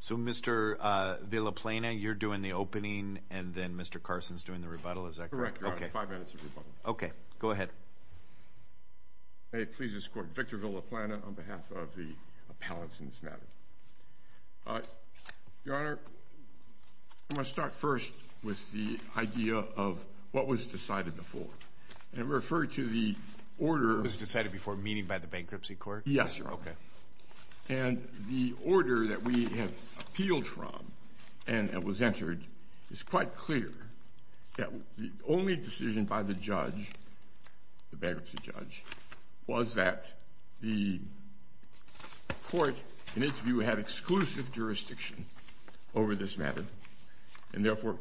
So, Mr. Villaplena, you're doing the opening, and then Mr. Carson's doing the rebuttal. Is that correct? Correct, Your Honor. Five minutes of rebuttal. Okay. Go ahead. May it please this Court, Victor Villaplena on behalf of the appellants in this matter. Your Honor, I'm going to start first with the idea of what was decided before. And refer to the order... What was decided before, meaning by the Bankruptcy Court? Yes, Your Honor. Okay. And the order that we have appealed from and it was entered, it's quite clear that the only decision by the judge, the bankruptcy judge, was that the court, in its view, had exclusive jurisdiction over this matter and therefore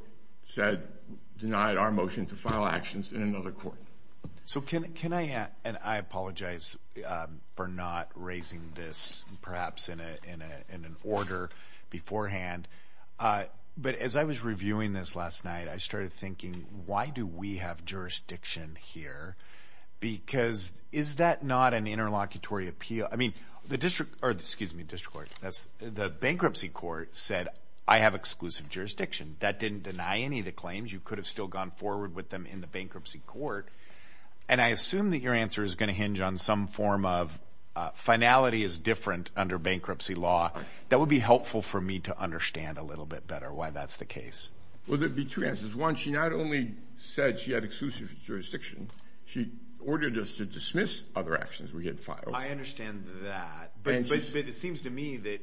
denied our motion to file actions in another court. So can I, and I apologize for not raising this perhaps in an order beforehand, but as I was reviewing this last night, I started thinking, why do we have jurisdiction here? Because is that not an interlocutory appeal? I mean, the district, or excuse me, the district court, the Bankruptcy Court said, I have exclusive jurisdiction. That didn't deny any of the claims. You could have still gone forward with them in the Bankruptcy Court. And I assume that your answer is going to hinge on some form of finality is different under bankruptcy law. That would be helpful for me to understand a little bit better why that's the case. Well, there would be two answers. One, she not only said she had exclusive jurisdiction, she ordered us to dismiss other actions we had filed. I understand that. But it seems to me that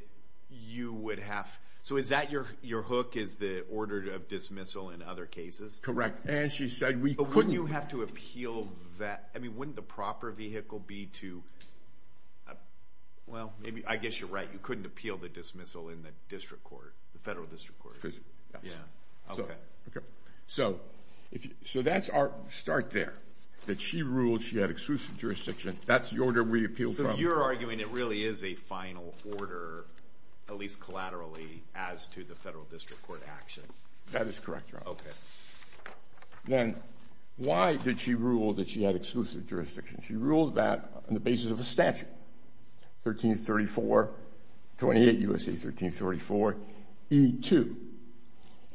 you would have... So is that your hook is the order of dismissal in other cases? Correct. And she said we couldn't... But wouldn't you have to appeal that? I mean, wouldn't the proper vehicle be to, well, I guess you're right. You couldn't appeal the dismissal in the district court, the federal district court. Yes. Yeah. Okay. So that's our start there, that she ruled she had exclusive jurisdiction. That's the order we appealed from. So you're arguing it really is a final order, at least collaterally, as to the federal district court action. That is correct, Your Honor. Okay. Then why did she rule that she had exclusive jurisdiction? She ruled that on the basis of a statute, 1334, 28 U.S.A. 1334, E2.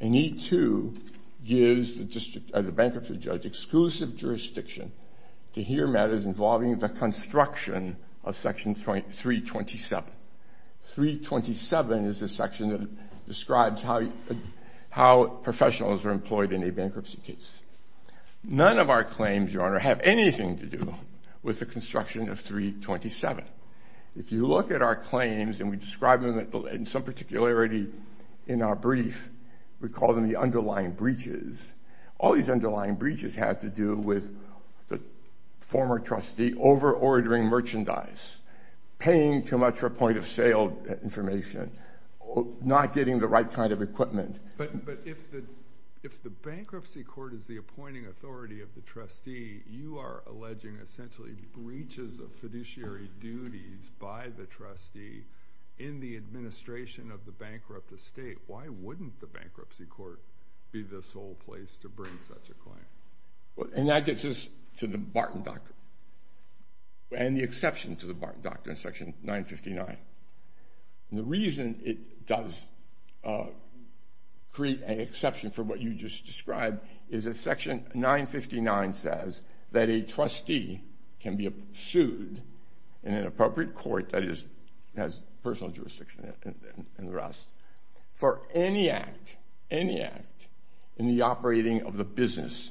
And E2 gives the bankruptcy judge exclusive jurisdiction to hear matters involving the construction of Section 327. 327 is the section that describes how professionals are employed in a bankruptcy case. None of our claims, Your Honor, have anything to do with the construction of 327. If you look at our claims, and we describe them in some particularity in our brief, we call them the underlying breaches. All these underlying breaches have to do with the former trustee over-ordering merchandise, paying too much for point-of-sale information, not getting the right kind of equipment. But if the bankruptcy court is the appointing authority of the trustee, you are alleging essentially breaches of fiduciary duties by the trustee in the administration of the bankrupt estate. Why wouldn't the bankruptcy court be the sole place to bring such a claim? And that gets us to the Barton Doctrine and the exception to the Barton Doctrine in Section 959. And the reason it does create an exception for what you just described is that Section 959 says that a trustee can be sued in an appropriate court that has personal jurisdiction and the rest for any act, any act, in the operating of the business.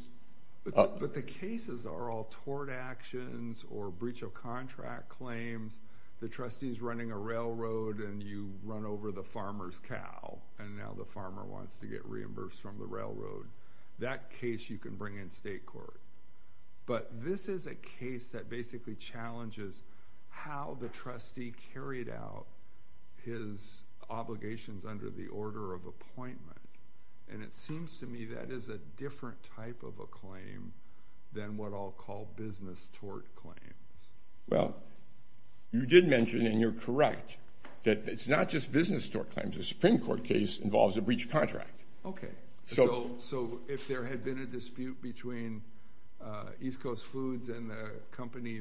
But the cases are all tort actions or breach of contract claims. The trustee is running a railroad, and you run over the farmer's cow, and now the farmer wants to get reimbursed from the railroad. That case you can bring in state court. But this is a case that basically challenges how the trustee carried out his obligations under the order of appointment. And it seems to me that is a different type of a claim than what I'll call business tort claims. Well, you did mention, and you're correct, that it's not just business tort claims. The Supreme Court case involves a breach of contract. Okay. So if there had been a dispute between East Coast Foods and the company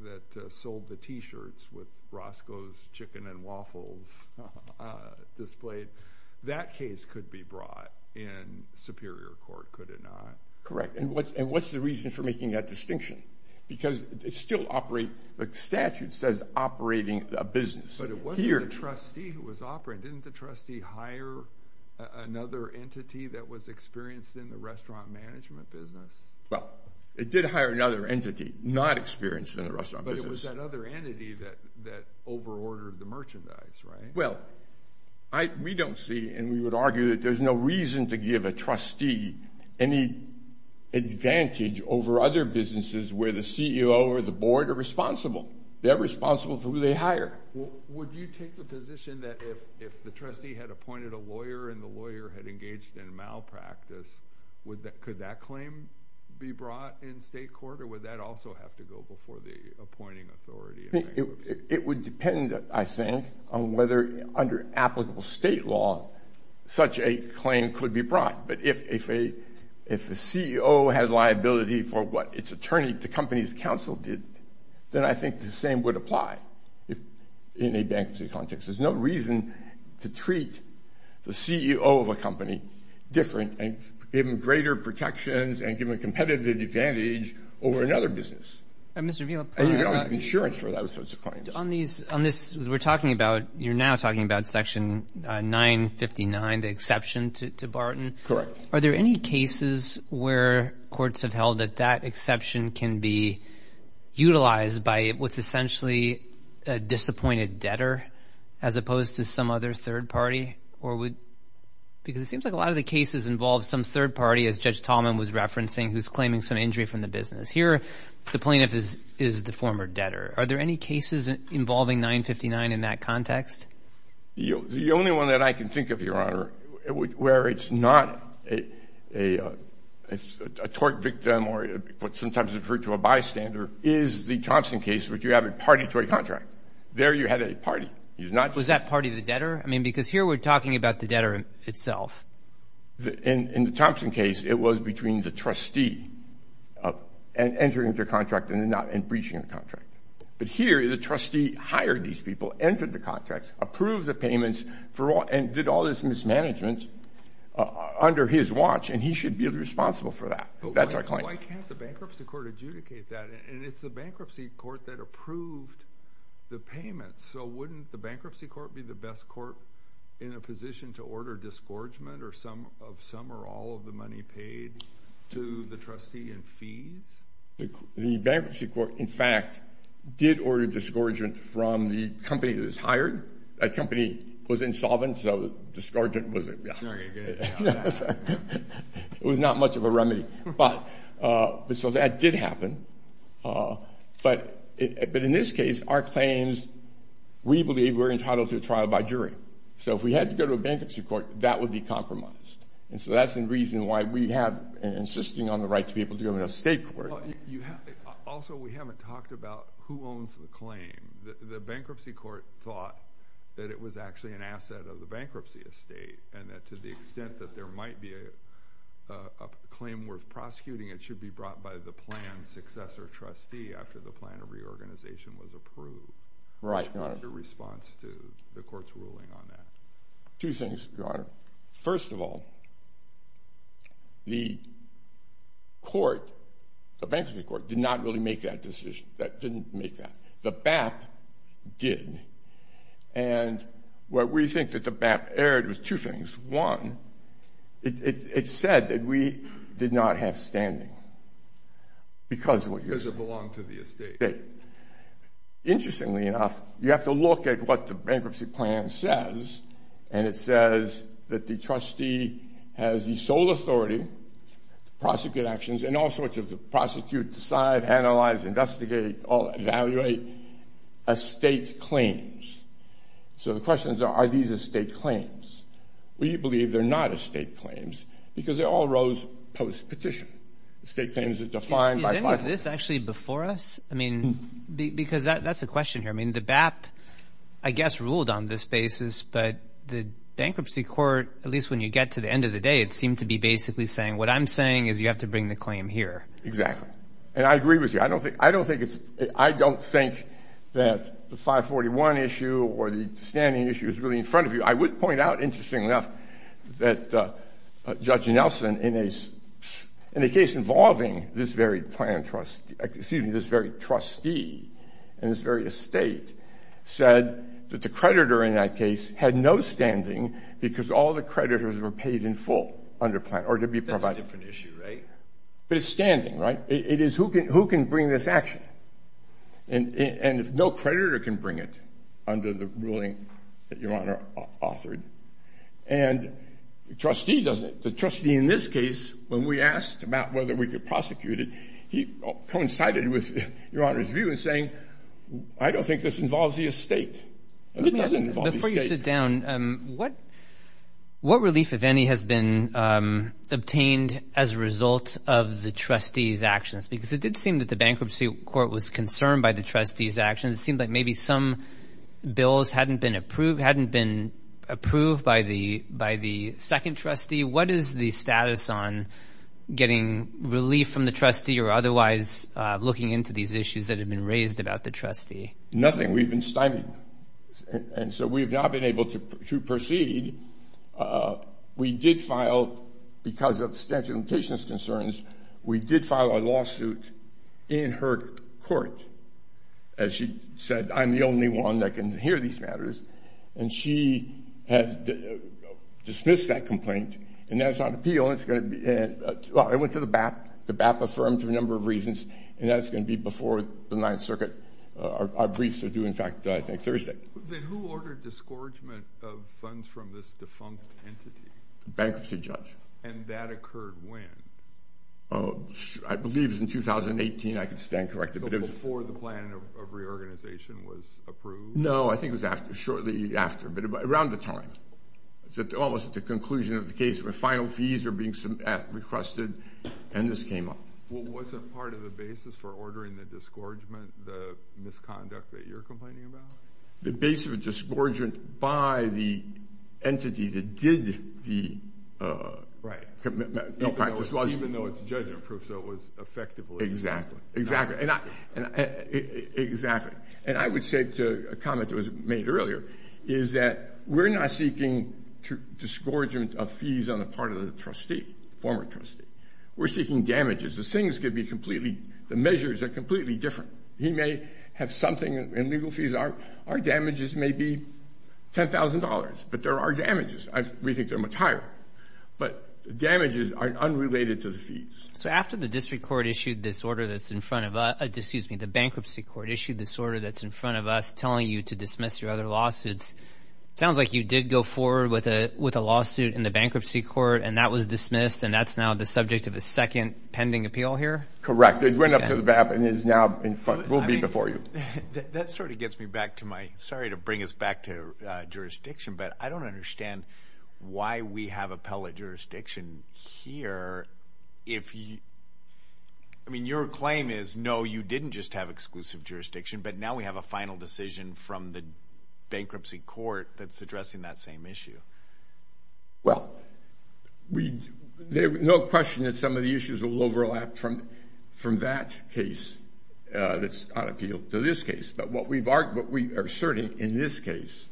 that sold the T-shirts with Roscoe's chicken and waffles displayed, that case could be brought in Superior Court, could it not? Correct. And what's the reason for making that distinction? Because it still operates, the statute says operating a business. But it wasn't the trustee who was operating. Didn't the trustee hire another entity that was experienced in the restaurant management business? Well, it did hire another entity not experienced in the restaurant business. But it was that other entity that overordered the merchandise, right? Well, we don't see, and we would argue that there's no reason to give a trustee any advantage over other businesses where the CEO or the board are responsible. They're responsible for who they hire. Would you take the position that if the trustee had appointed a lawyer and the lawyer had engaged in malpractice, could that claim be brought in state court, or would that also have to go before the appointing authority? It would depend, I think, on whether under applicable state law such a claim could be brought. But if a CEO had liability for what its attorney, the company's counsel did, then I think the same would apply in a bankruptcy context. There's no reason to treat the CEO of a company different and give them greater protections and give them a competitive advantage over another business. And you can always get insurance for those sorts of claims. You're now talking about Section 959, the exception to Barton. Correct. Are there any cases where courts have held that that exception can be utilized by what's essentially a disappointed debtor as opposed to some other third party? Because it seems like a lot of the cases involve some third party, as Judge Tallman was referencing, who's claiming some injury from the business. Here, the plaintiff is the former debtor. Are there any cases involving 959 in that context? The only one that I can think of, Your Honor, where it's not a tort victim or what's sometimes referred to a bystander is the Thompson case, which you have a partitory contract. There you had a party. Was that party the debtor? I mean, because here we're talking about the debtor itself. In the Thompson case, it was between the trustee entering the contract and breaching the contract. But here, the trustee hired these people, entered the contracts, approved the payments, and did all this mismanagement under his watch, and he should be responsible for that. That's our claim. Why can't the bankruptcy court adjudicate that? And it's the bankruptcy court that approved the payments. So wouldn't the bankruptcy court be the best court in a position to order disgorgement of some or all of the money paid to the trustee in fees? The bankruptcy court, in fact, did order disgorgement from the company that was hired. That company was insolvent, so disgorgement was not much of a remedy. So that did happen. But in this case, our claims, we believe we're entitled to a trial by jury. So if we had to go to a bankruptcy court, that would be compromised. And so that's the reason why we have an insisting on the right to be able to go to an estate court. Also, we haven't talked about who owns the claim. The bankruptcy court thought that it was actually an asset of the bankruptcy estate and that to the extent that there might be a claim worth prosecuting, it should be brought by the plan's successor trustee after the plan of reorganization was approved. What's your response to the court's ruling on that? Two things, Your Honor. First of all, the court, the bankruptcy court, did not really make that decision. That didn't make that. The BAP did. And what we think that the BAP erred was two things. One, it said that we did not have standing because of what you're saying. Because it belonged to the estate. Interestingly enough, you have to look at what the bankruptcy plan says, and it says that the trustee has the sole authority to prosecute actions and all sorts of prosecute, decide, analyze, investigate, evaluate estate claims. So the question is, are these estate claims? We believe they're not estate claims because they all rose post-petition. Estate claims are defined by 541. Is any of this actually before us? I mean, because that's a question here. I mean, the BAP, I guess, ruled on this basis, but the bankruptcy court, at least when you get to the end of the day, it seemed to be basically saying, what I'm saying is you have to bring the claim here. Exactly. And I agree with you. I don't think that the 541 issue or the standing issue is really in front of you. I would point out, interestingly enough, that Judge Nelson, in a case involving this very trustee and this very estate, said that the creditor in that case had no standing because all the creditors were paid in full under plan or to be provided. That's a different issue, right? But it's standing, right? It is who can bring this action. And no creditor can bring it under the ruling that Your Honor authored. And the trustee in this case, when we asked about whether we could prosecute it, he coincided with Your Honor's view in saying, I don't think this involves the estate. It doesn't involve the estate. Before you sit down, what relief, if any, has been obtained as a result of the trustee's actions? Because it did seem that the bankruptcy court was concerned by the trustee's actions. It seemed like maybe some bills hadn't been approved by the second trustee. What is the status on getting relief from the trustee or otherwise looking into these issues that have been raised about the trustee? Nothing. We've been stymied. And so we have not been able to proceed. We did file, because of statute of limitations concerns, we did file a lawsuit in her court. As she said, I'm the only one that can hear these matters. And she has dismissed that complaint. And that's on appeal. And it's going to be, well, it went to the BAP. The BAP affirmed for a number of reasons. And that's going to be before the Ninth Circuit. Our briefs are due, in fact, I think Thursday. Then who ordered disgorgement of funds from this defunct entity? The bankruptcy judge. And that occurred when? I believe it was in 2018. I can stand corrected. Before the plan of reorganization was approved? No, I think it was shortly after, but around the time. It was almost at the conclusion of the case where final fees were being requested, and this came up. Well, was it part of the basis for ordering the disgorgement, the misconduct that you're complaining about? The basis of disgorgement by the entity that did the practice was? Right, even though it's judgment proof, so it was effective. Exactly. Exactly. And I would say to a comment that was made earlier, is that we're not seeking disgorgement of fees on the part of the trustee, former trustee. We're seeking damages. The things could be completely, the measures are completely different. He may have something in legal fees. Our damages may be $10,000, but there are damages. We think they're much higher. But damages are unrelated to the fees. So after the district court issued this order that's in front of us, excuse me, the bankruptcy court issued this order that's in front of us telling you to dismiss your other lawsuits. It sounds like you did go forward with a lawsuit in the bankruptcy court, and that was dismissed, and that's now the subject of a second pending appeal here? Correct. It went up to the BAP and is now in front, will be before you. That sort of gets me back to my, sorry to bring us back to jurisdiction, but I don't understand why we have appellate jurisdiction here. I mean, your claim is, no, you didn't just have exclusive jurisdiction, but now we have a final decision from the bankruptcy court that's addressing that same issue. Well, there's no question that some of the issues will overlap from that case that's on appeal to this case. But what we are asserting in this case.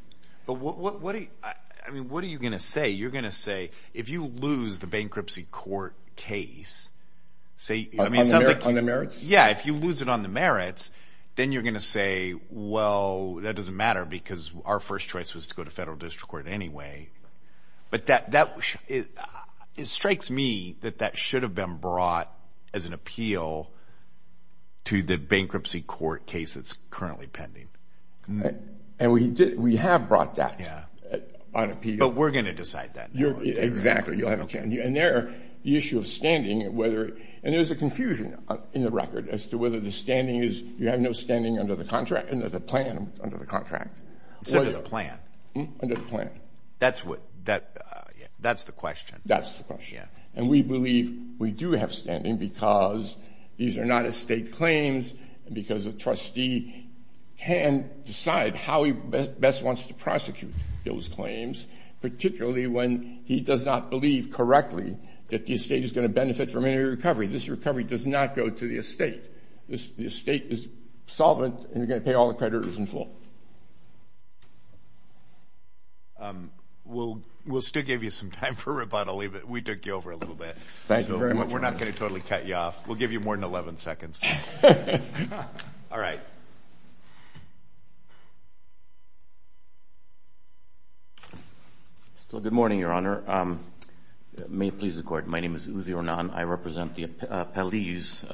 But what are you going to say? You're going to say if you lose the bankruptcy court case. On the merits? Yeah, if you lose it on the merits, then you're going to say, well, that doesn't matter because our first choice was to go to federal district court anyway. But it strikes me that that should have been brought as an appeal to the bankruptcy court case that's currently pending. And we have brought that on appeal. But we're going to decide that. Exactly. And there, the issue of standing, and there's a confusion in the record as to whether the standing is, you have no standing under the contract, under the plan under the contract. Under the plan. Under the plan. That's what, that's the question. That's the question. And we believe we do have standing because these are not estate claims and because a trustee can decide how he best wants to prosecute those claims, particularly when he does not believe correctly that the estate is going to benefit from any recovery. This recovery does not go to the estate. The estate is solvent and you're going to pay all the creditors in full. We'll still give you some time for rebuttal. We took you over a little bit. Thank you very much. We're not going to totally cut you off. We'll give you more than 11 seconds. All right. Good morning, Your Honor. May it please the Court. My name is Uzi Ornan. I represent the appellees,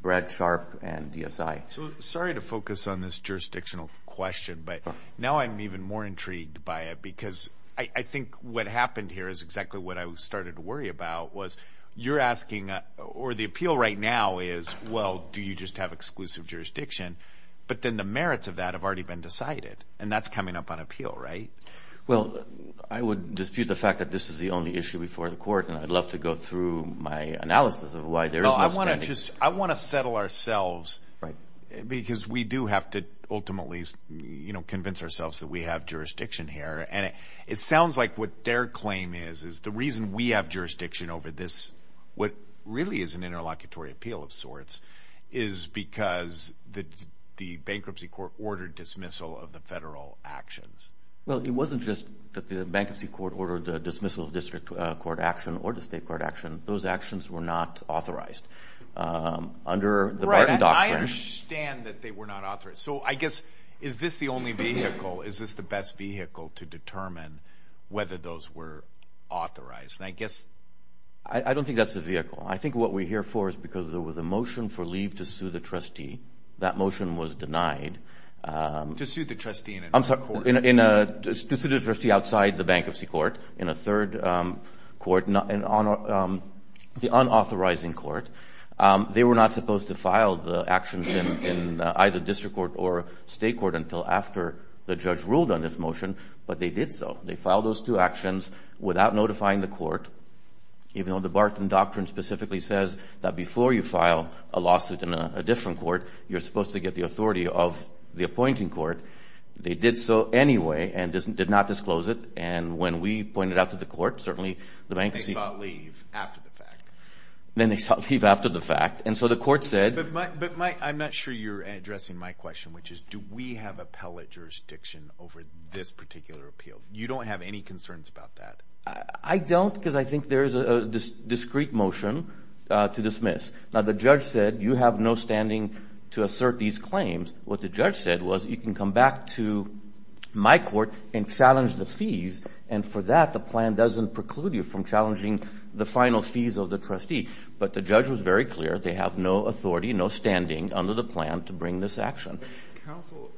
Brad Sharp and DSI. Sorry to focus on this jurisdictional question, but now I'm even more intrigued by it because I think what happened here is exactly what I started to worry about was you're asking, or the appeal right now is, well, do you just have exclusive jurisdiction? But then the merits of that have already been decided, and that's coming up on appeal, right? Well, I would dispute the fact that this is the only issue before the Court, and I'd love to go through my analysis of why there is no standing. I want to settle ourselves because we do have to ultimately convince ourselves that we have jurisdiction here. And it sounds like what their claim is is the reason we have jurisdiction over this, what really is an interlocutory appeal of sorts, is because the bankruptcy court ordered dismissal of the federal actions. Well, it wasn't just that the bankruptcy court ordered the dismissal of district court action or the state court action. Those actions were not authorized under the Barton Doctrine. Right, and I understand that they were not authorized. So I guess is this the only vehicle? Is this the best vehicle to determine whether those were authorized? And I guess – I don't think that's the vehicle. I think what we're here for is because there was a motion for leave to sue the trustee. That motion was denied. To sue the trustee in a court? I'm sorry, to sue the trustee outside the bankruptcy court in a third court, the unauthorizing court. They were not supposed to file the actions in either district court or state court until after the judge ruled on this motion, but they did so. They filed those two actions without notifying the court, even though the Barton Doctrine specifically says that before you file a lawsuit in a different court, you're supposed to get the authority of the appointing court. They did so anyway and did not disclose it. And when we pointed out to the court, certainly the bankruptcy – They sought leave after the fact. Then they sought leave after the fact. And so the court said – But I'm not sure you're addressing my question, which is, do we have appellate jurisdiction over this particular appeal? You don't have any concerns about that? I don't because I think there is a discrete motion to dismiss. Now, the judge said you have no standing to assert these claims. What the judge said was you can come back to my court and challenge the fees, and for that the plan doesn't preclude you from challenging the final fees of the trustee. But the judge was very clear. They have no authority, no standing under the plan to bring this action. Counsel,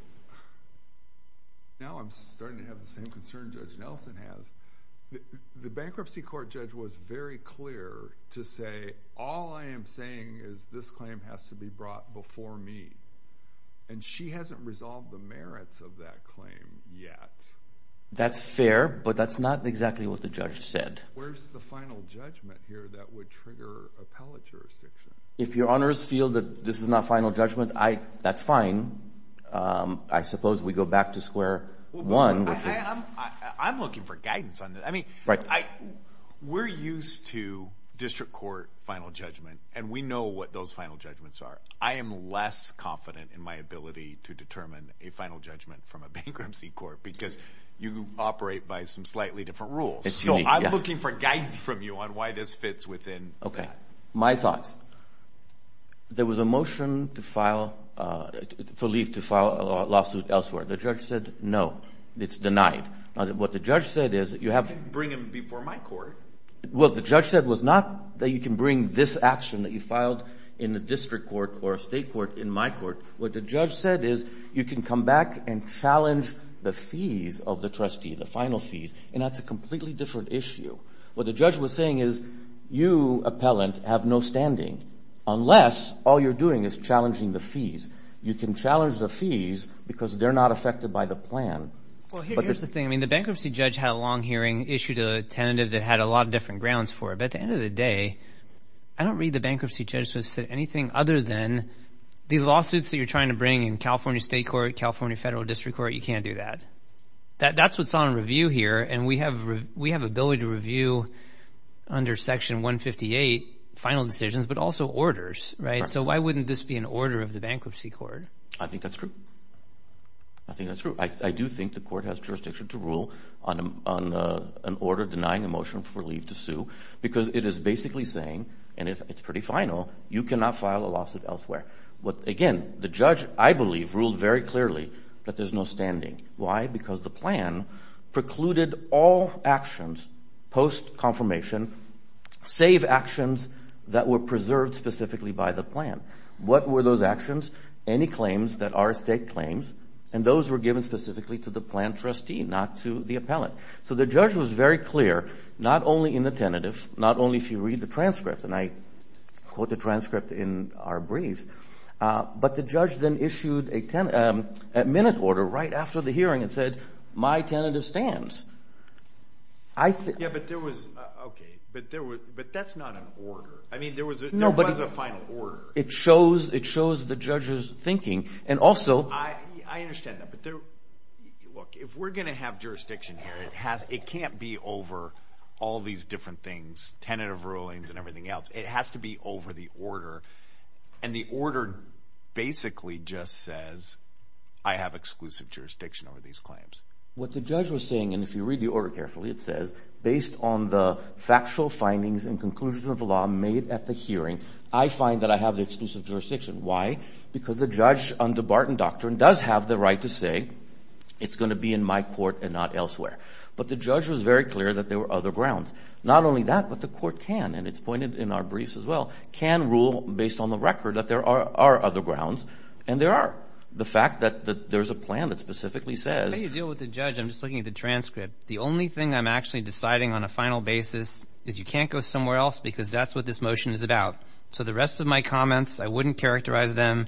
now I'm starting to have the same concern Judge Nelson has. The bankruptcy court judge was very clear to say, all I am saying is this claim has to be brought before me. And she hasn't resolved the merits of that claim yet. That's fair, but that's not exactly what the judge said. Where's the final judgment here that would trigger appellate jurisdiction? If your honors feel that this is not final judgment, that's fine. I suppose we go back to square one, which is – I'm looking for guidance on this. I mean, we're used to district court final judgment, and we know what those final judgments are. I am less confident in my ability to determine a final judgment from a bankruptcy court because you operate by some slightly different rules. So I'm looking for guidance from you on why this fits within that. Okay, my thoughts. There was a motion to file for leave to file a lawsuit elsewhere. The judge said no, it's denied. Now, what the judge said is that you have to bring it before my court. Well, what the judge said was not that you can bring this action that you filed in the district court or a state court in my court. What the judge said is you can come back and challenge the fees of the trustee, the final fees, and that's a completely different issue. What the judge was saying is you, appellant, have no standing unless all you're doing is challenging the fees. You can challenge the fees because they're not affected by the plan. Well, here's the thing. I mean, the bankruptcy judge had a long hearing, issued a tentative that had a lot of different grounds for it. But at the end of the day, I don't read the bankruptcy judge to say anything other than these lawsuits that you're trying to bring in California state court, California federal district court, you can't do that. That's what's on review here, and we have ability to review under Section 158 final decisions but also orders, right? So why wouldn't this be an order of the bankruptcy court? I think that's true. I think that's true. I do think the court has jurisdiction to rule on an order denying a motion for leave to sue because it is basically saying, and it's pretty final, you cannot file a lawsuit elsewhere. Again, the judge, I believe, ruled very clearly that there's no standing. Why? Because the plan precluded all actions post-confirmation, save actions that were preserved specifically by the plan. What were those actions? Any claims that are state claims, and those were given specifically to the plan trustee, not to the appellant. So the judge was very clear, not only in the tentative, not only if you read the transcript, and I quote the transcript in our briefs, but the judge then issued a minute order right after the hearing and said, my tentative stands. Yeah, but there was, okay, but that's not an order. I mean, there was a final order. It shows the judge's thinking. I understand that, but look, if we're going to have jurisdiction here, it can't be over all these different things, tentative rulings and everything else. It has to be over the order. And the order basically just says, I have exclusive jurisdiction over these claims. What the judge was saying, and if you read the order carefully, it says, based on the factual findings and conclusions of the law made at the hearing, I find that I have the exclusive jurisdiction. Why? Because the judge under Barton Doctrine does have the right to say, it's going to be in my court and not elsewhere. But the judge was very clear that there were other grounds. Not only that, but the court can, and it's pointed in our briefs as well, can rule based on the record that there are other grounds, and there are the fact that there's a plan that specifically says. How do you deal with the judge? I'm just looking at the transcript. The only thing I'm actually deciding on a final basis is you can't go somewhere else because that's what this motion is about. So the rest of my comments, I wouldn't characterize them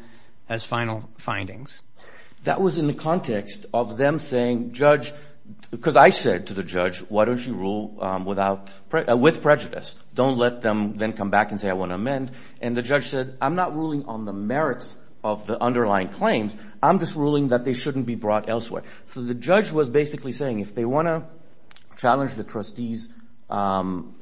as final findings. That was in the context of them saying, judge, because I said to the judge, why don't you rule with prejudice? Don't let them then come back and say, I want to amend. And the judge said, I'm not ruling on the merits of the underlying claims. I'm just ruling that they shouldn't be brought elsewhere. So the judge was basically saying, if they want to challenge the trustees'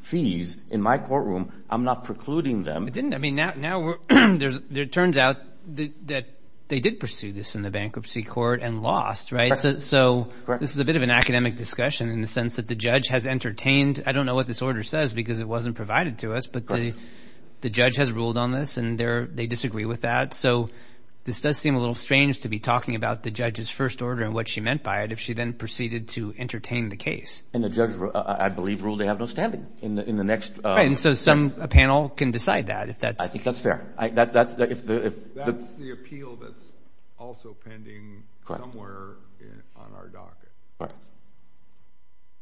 fees in my courtroom, I'm not precluding them. It didn't. I mean, now it turns out that they did pursue this in the bankruptcy court and lost, right? So this is a bit of an academic discussion in the sense that the judge has entertained. I don't know what this order says because it wasn't provided to us, but the judge has ruled on this, and they disagree with that. So this does seem a little strange to be talking about the judge's first order and what she meant by it if she then proceeded to entertain the case. And the judge, I believe, ruled they have no standing in the next. So a panel can decide that. I think that's fair. That's the appeal that's also pending somewhere on our docket.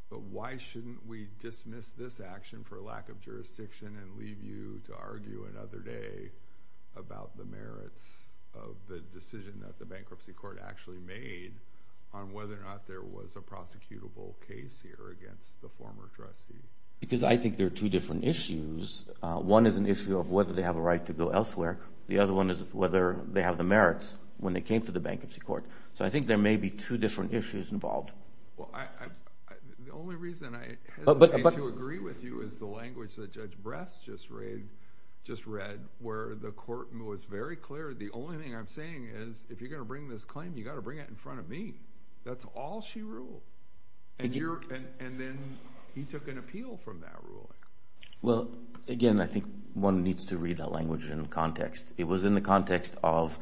But why shouldn't we dismiss this action for lack of jurisdiction and leave you to argue another day about the merits of the decision that the bankruptcy court actually made on whether or not there was a prosecutable case here against the former trustee? Because I think there are two different issues. One is an issue of whether they have a right to go elsewhere. The other one is whether they have the merits when they came to the bankruptcy court. So I think there may be two different issues involved. The only reason I hesitate to agree with you is the language that Judge Bress just read where the court was very clear. The only thing I'm saying is if you're going to bring this claim, you've got to bring it in front of me. That's all she ruled. And then he took an appeal from that ruling. Well, again, I think one needs to read that language in context. It was in the context of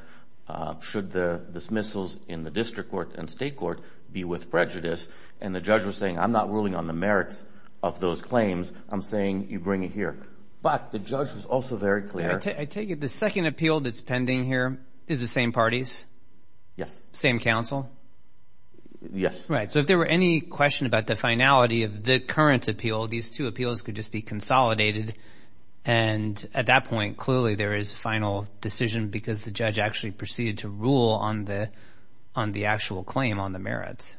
should the dismissals in the district court and state court be with prejudice. And the judge was saying I'm not ruling on the merits of those claims. I'm saying you bring it here. But the judge was also very clear. I take it the second appeal that's pending here is the same parties? Yes. Same counsel? Yes. Right. So if there were any question about the finality of the current appeal, these two appeals could just be consolidated. And at that point, clearly there is final decision because the judge actually proceeded to rule on the actual claim on the merits.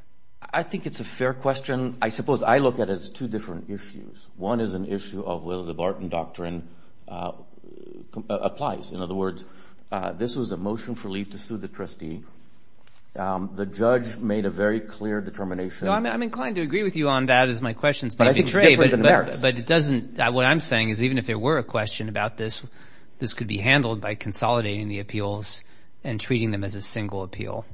I think it's a fair question. I suppose I look at it as two different issues. One is an issue of whether the Barton Doctrine applies. In other words, this was a motion for leave to sue the trustee. The judge made a very clear determination. No, I'm inclined to agree with you on that as my question is maybe trade. But I think it's different than merits. But it doesn't – what I'm saying is even if there were a question about this, this could be handled by consolidating the appeals and treating them as a single appeal.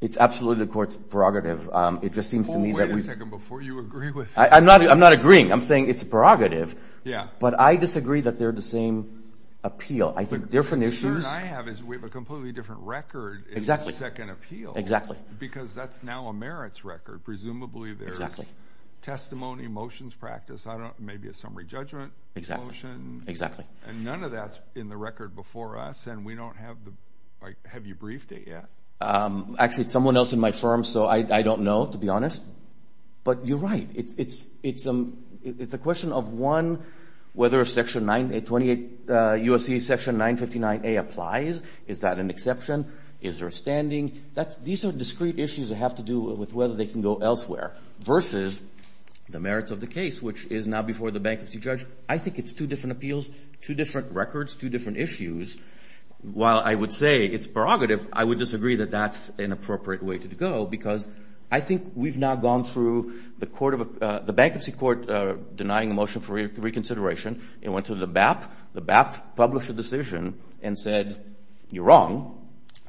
It's absolutely the court's prerogative. It just seems to me that we've – Wait a second before you agree with him. I'm not agreeing. I'm saying it's a prerogative. Yeah. But I disagree that they're the same appeal. I think different issues – Exactly. Because that's now a merits record. Presumably there's testimony, motions practiced, maybe a summary judgment motion. And none of that's in the record before us. And we don't have the – have you briefed it yet? Actually, it's someone else in my firm, so I don't know, to be honest. But you're right. It's a question of, one, whether Section 928 U.S.C. Section 959A applies. Is that an exception? Is there a standing? These are discrete issues that have to do with whether they can go elsewhere versus the merits of the case, which is now before the bankruptcy judge. I think it's two different appeals, two different records, two different issues. While I would say it's prerogative, I would disagree that that's an appropriate way to go because I think we've now gone through the bankruptcy court denying a motion for reconsideration and went to the BAP. The BAP published a decision and said, you're wrong.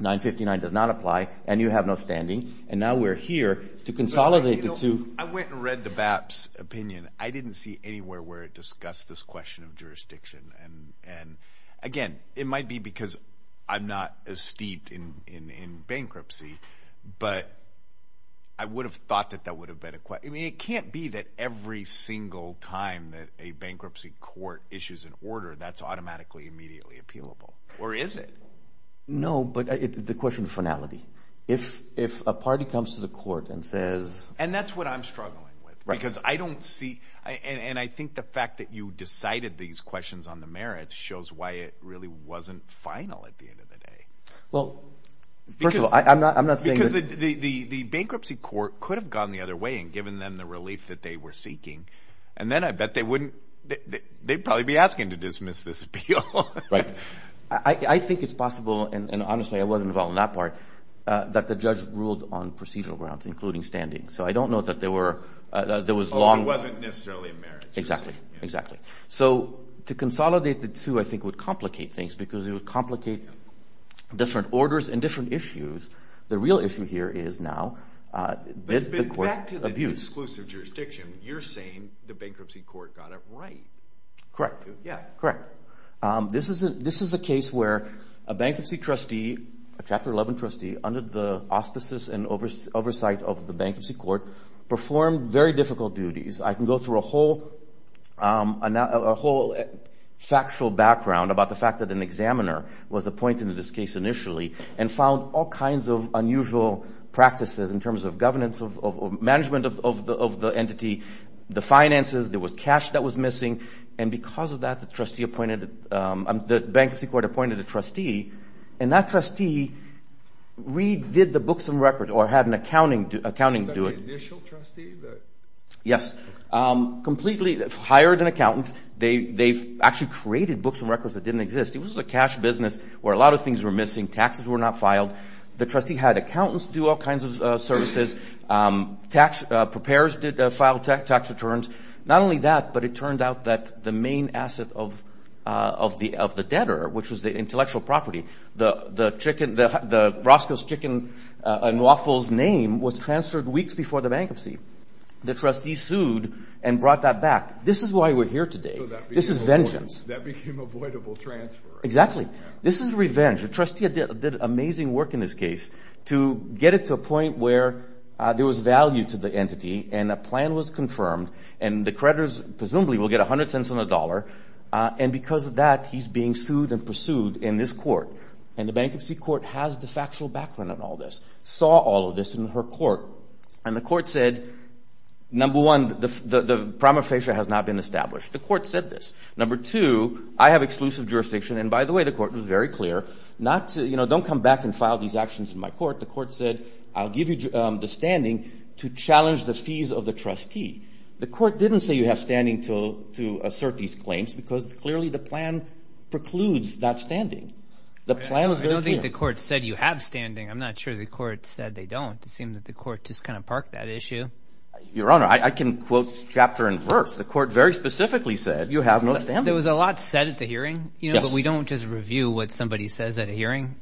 959 does not apply and you have no standing. And now we're here to consolidate the two. I went and read the BAP's opinion. I didn't see anywhere where it discussed this question of jurisdiction. And, again, it might be because I'm not as steeped in bankruptcy, but I would have thought that that would have been a – I mean, it can't be that every single time that a bankruptcy court issues an order, that's automatically immediately appealable. Or is it? No, but the question of finality. If a party comes to the court and says – And that's what I'm struggling with because I don't see – and I think the fact that you decided these questions on the merits shows why it really wasn't final at the end of the day. Well, first of all, I'm not saying that – The bankruptcy court could have gone the other way and given them the relief that they were seeking. And then I bet they wouldn't – they'd probably be asking to dismiss this appeal. Right. I think it's possible – and, honestly, I was involved in that part – that the judge ruled on procedural grounds, including standing. So I don't know that there was long – Although it wasn't necessarily a merit. Exactly, exactly. So to consolidate the two I think would complicate things because it would complicate different orders and different issues. The real issue here is now – Back to the exclusive jurisdiction. You're saying the bankruptcy court got it right. Correct. Yeah. Correct. This is a case where a bankruptcy trustee, a Chapter 11 trustee, under the auspices and oversight of the bankruptcy court, performed very difficult duties. I can go through a whole factual background about the fact that an examiner was appointed in this case initially and found all kinds of unusual practices in terms of governance, of management of the entity, the finances. There was cash that was missing. And because of that, the trustee appointed – the bankruptcy court appointed a trustee, and that trustee redid the books and records or had an accounting do it. Was that the initial trustee? Yes. Completely hired an accountant. They actually created books and records that didn't exist. It was a cash business where a lot of things were missing. Taxes were not filed. The trustee had accountants do all kinds of services. Tax preparers did file tax returns. Not only that, but it turned out that the main asset of the debtor, which was the intellectual property, the chicken – the Roscoe's chicken and waffles name was transferred weeks before the bankruptcy. The trustee sued and brought that back. This is why we're here today. This is vengeance. That became avoidable transfer. Exactly. This is revenge. The trustee did amazing work in this case to get it to a point where there was value to the entity and a plan was confirmed and the creditors presumably will get 100 cents on the dollar. And because of that, he's being sued and pursued in this court. And the bankruptcy court has the factual background on all this, saw all of this in her court. And the court said, number one, the prima facie has not been established. The court said this. Number two, I have exclusive jurisdiction. And, by the way, the court was very clear. Don't come back and file these actions in my court. The court said, I'll give you the standing to challenge the fees of the trustee. The court didn't say you have standing to assert these claims because clearly the plan precludes that standing. The plan was very clear. I don't think the court said you have standing. I'm not sure the court said they don't. It seemed that the court just kind of parked that issue. Your Honor, I can quote chapter and verse. The court very specifically said you have no standing. There was a lot said at the hearing, but we don't just review what somebody says at a hearing.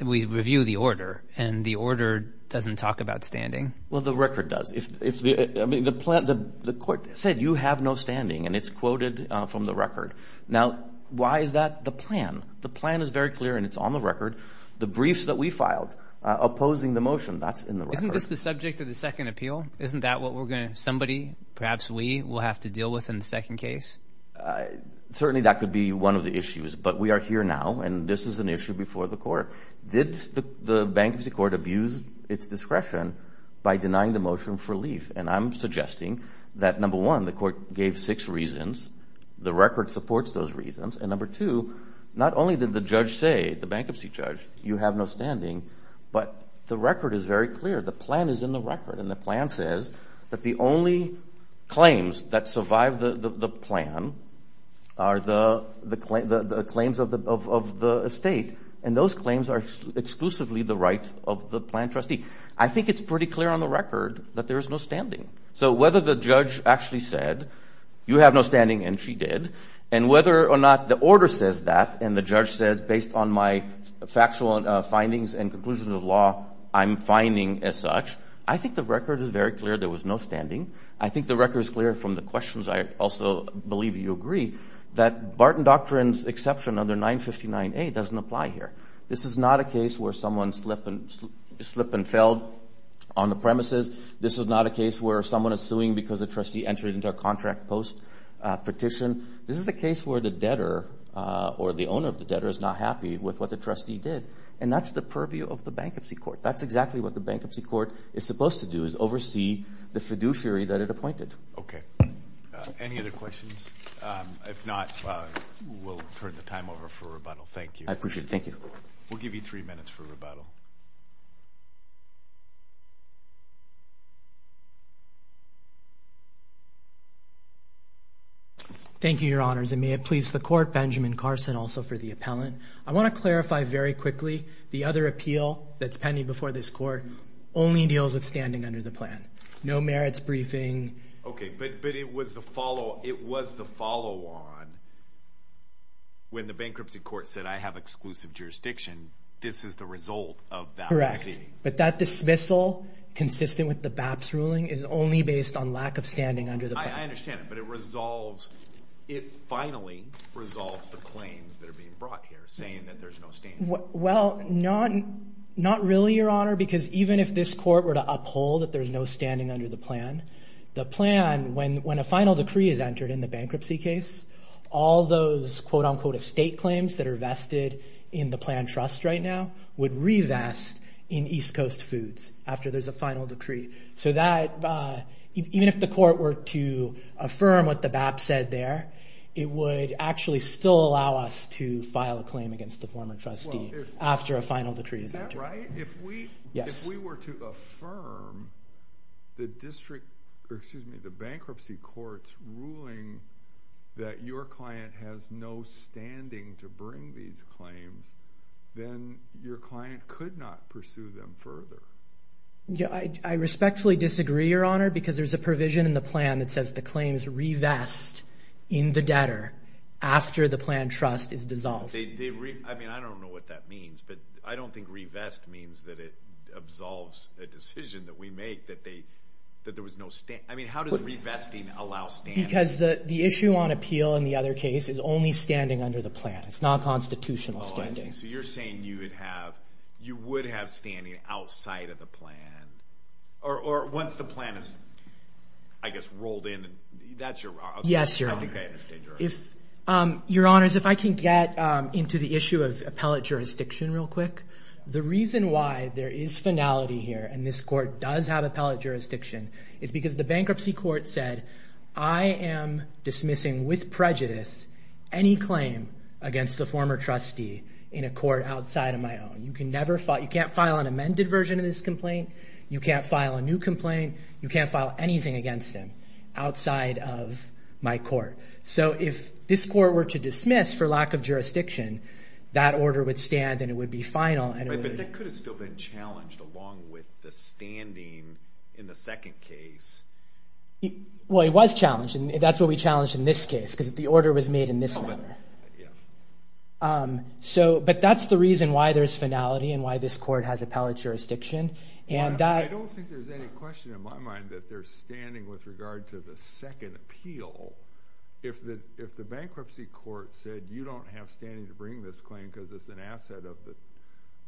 We review the order, and the order doesn't talk about standing. Well, the record does. I mean, the court said you have no standing, and it's quoted from the record. Now, why is that the plan? The plan is very clear, and it's on the record. The briefs that we filed opposing the motion, that's in the record. Isn't this the subject of the second appeal? Isn't that what somebody, perhaps we, will have to deal with in the second case? Certainly that could be one of the issues, but we are here now, and this is an issue before the court. Did the bankruptcy court abuse its discretion by denying the motion for leave? And I'm suggesting that, number one, the court gave six reasons. The record supports those reasons. And, number two, not only did the judge say, the bankruptcy judge, you have no standing, but the record is very clear. The plan is in the record, and the plan says that the only claims that survive the plan are the claims of the estate, and those claims are exclusively the right of the plan trustee. I think it's pretty clear on the record that there is no standing. So whether the judge actually said, you have no standing, and she did, and whether or not the order says that, and the judge says, based on my factual findings and conclusions of law, I'm finding as such, I think the record is very clear there was no standing. I think the record is clear from the questions. I also believe you agree that Barton Doctrine's exception under 959A doesn't apply here. This is not a case where someone slipped and fell on the premises. This is not a case where someone is suing because a trustee entered into a contract post petition. This is a case where the debtor or the owner of the debtor is not happy with what the trustee did, and that's the purview of the bankruptcy court. That's exactly what the bankruptcy court is supposed to do is oversee the fiduciary that it appointed. Okay. Any other questions? If not, we'll turn the time over for rebuttal. Thank you. I appreciate it. Thank you. We'll give you three minutes for rebuttal. Thank you, Your Honors, and may it please the court, Benjamin Carson also for the appellant. I want to clarify very quickly the other appeal that's pending before this court only deals with standing under the plan. No merits briefing. Okay, but it was the follow on when the bankruptcy court said I have exclusive jurisdiction. This is the result of that proceeding. Correct, but that dismissal consistent with the BAPS ruling is only based on lack of standing under the plan. I understand, but it resolves, it finally resolves the claims that are being brought here saying that there's no standing. Well, not really, Your Honor, because even if this court were to uphold that there's no standing under the plan, the plan, when a final decree is entered in the bankruptcy case, all those quote unquote estate claims that are vested in the plan trust right now would revest in East Coast Foods after there's a final decree. So that even if the court were to affirm what the BAPS said there, it would actually still allow us to file a claim against the former trustee after a final decree is entered. Is that right? Yes. If we were to affirm the bankruptcy court's ruling that your client has no standing to bring these claims, then your client could not pursue them further. I respectfully disagree, Your Honor, because there's a provision in the plan that says the claims revest in the debtor after the plan trust is dissolved. I mean, I don't know what that means, but I don't think revest means that it absolves a decision that we make that there was no standing. I mean, how does revesting allow standing? Because the issue on appeal in the other case is only standing under the plan. It's not constitutional standing. So you're saying you would have standing outside of the plan or once the plan is, I guess, rolled in. That's your argument. Yes, Your Honor. I think I understand your argument. Your Honors, if I can get into the issue of appellate jurisdiction real quick. The reason why there is finality here and this court does have appellate jurisdiction is because the bankruptcy court said, I am dismissing with prejudice any claim against the former trustee in a court outside of my own. You can't file an amended version of this complaint. You can't file a new complaint. You can't file anything against him outside of my court. So if this court were to dismiss for lack of jurisdiction, that order would stand and it would be final. But that could have still been challenged along with the standing in the second case. Well, it was challenged. That's what we challenged in this case because the order was made in this manner. But that's the reason why there's finality and why this court has appellate jurisdiction. I don't think there's any question in my mind that there's standing with regard to the second appeal. If the bankruptcy court said you don't have standing to bring this claim because it's an asset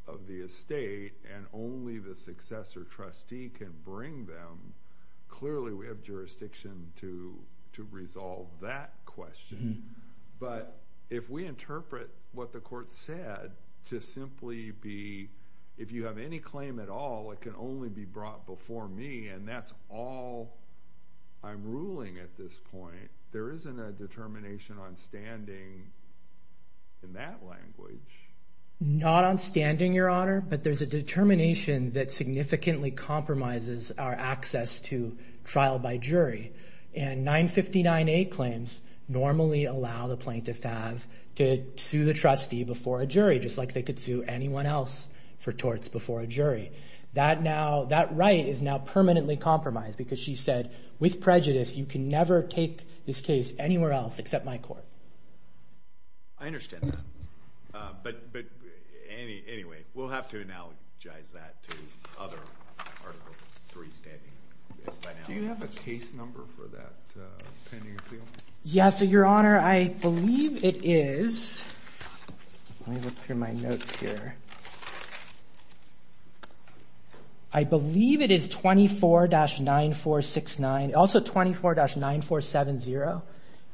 of the estate and only the successor trustee can bring them, clearly we have jurisdiction to resolve that question. But if we interpret what the court said to simply be if you have any claim at all, it can only be brought before me. And that's all I'm ruling at this point. There isn't a determination on standing in that language. Not on standing, Your Honor, but there's a determination that significantly compromises our access to trial by jury. And 959A claims normally allow the plaintiff to sue the trustee before a jury, just like they could sue anyone else for torts before a jury. That right is now permanently compromised because she said, with prejudice, you can never take this case anywhere else except my court. I understand that. But anyway, we'll have to analogize that to other Article III standing. Do you have a case number for that pending appeal? Yes, Your Honor. I believe it is. Let me look through my notes here. I believe it is 24-9469, also 24-9470.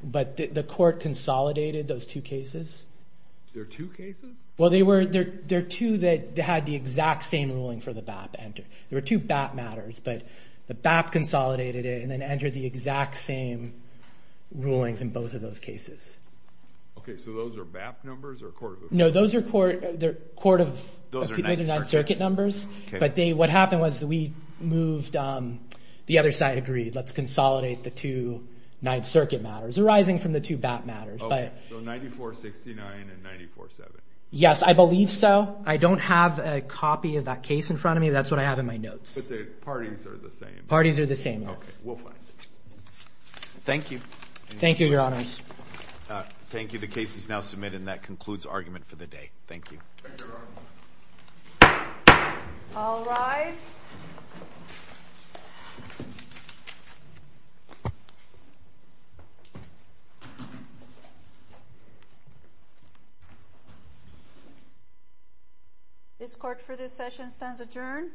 But the court consolidated those two cases. There are two cases? Well, there are two that had the exact same ruling for the BAP. There were two BAP matters, but the BAP consolidated it and then entered the exact same rulings in both of those cases. Okay, so those are BAP numbers or Court of Appeals? No, those are Court of Appeals Ninth Circuit numbers. But what happened was we moved, the other side agreed, let's consolidate the two Ninth Circuit matters arising from the two BAP matters. Okay, so 9469 and 9470. Yes, I believe so. I don't have a copy of that case in front of me. That's what I have in my notes. But the parties are the same? Parties are the same, yes. Okay, we'll find it. Thank you. Thank you, Your Honors. Thank you. The case is now submitted, and that concludes argument for the day. Thank you. Thank you, Your Honor. All rise. This court for this session stands adjourned.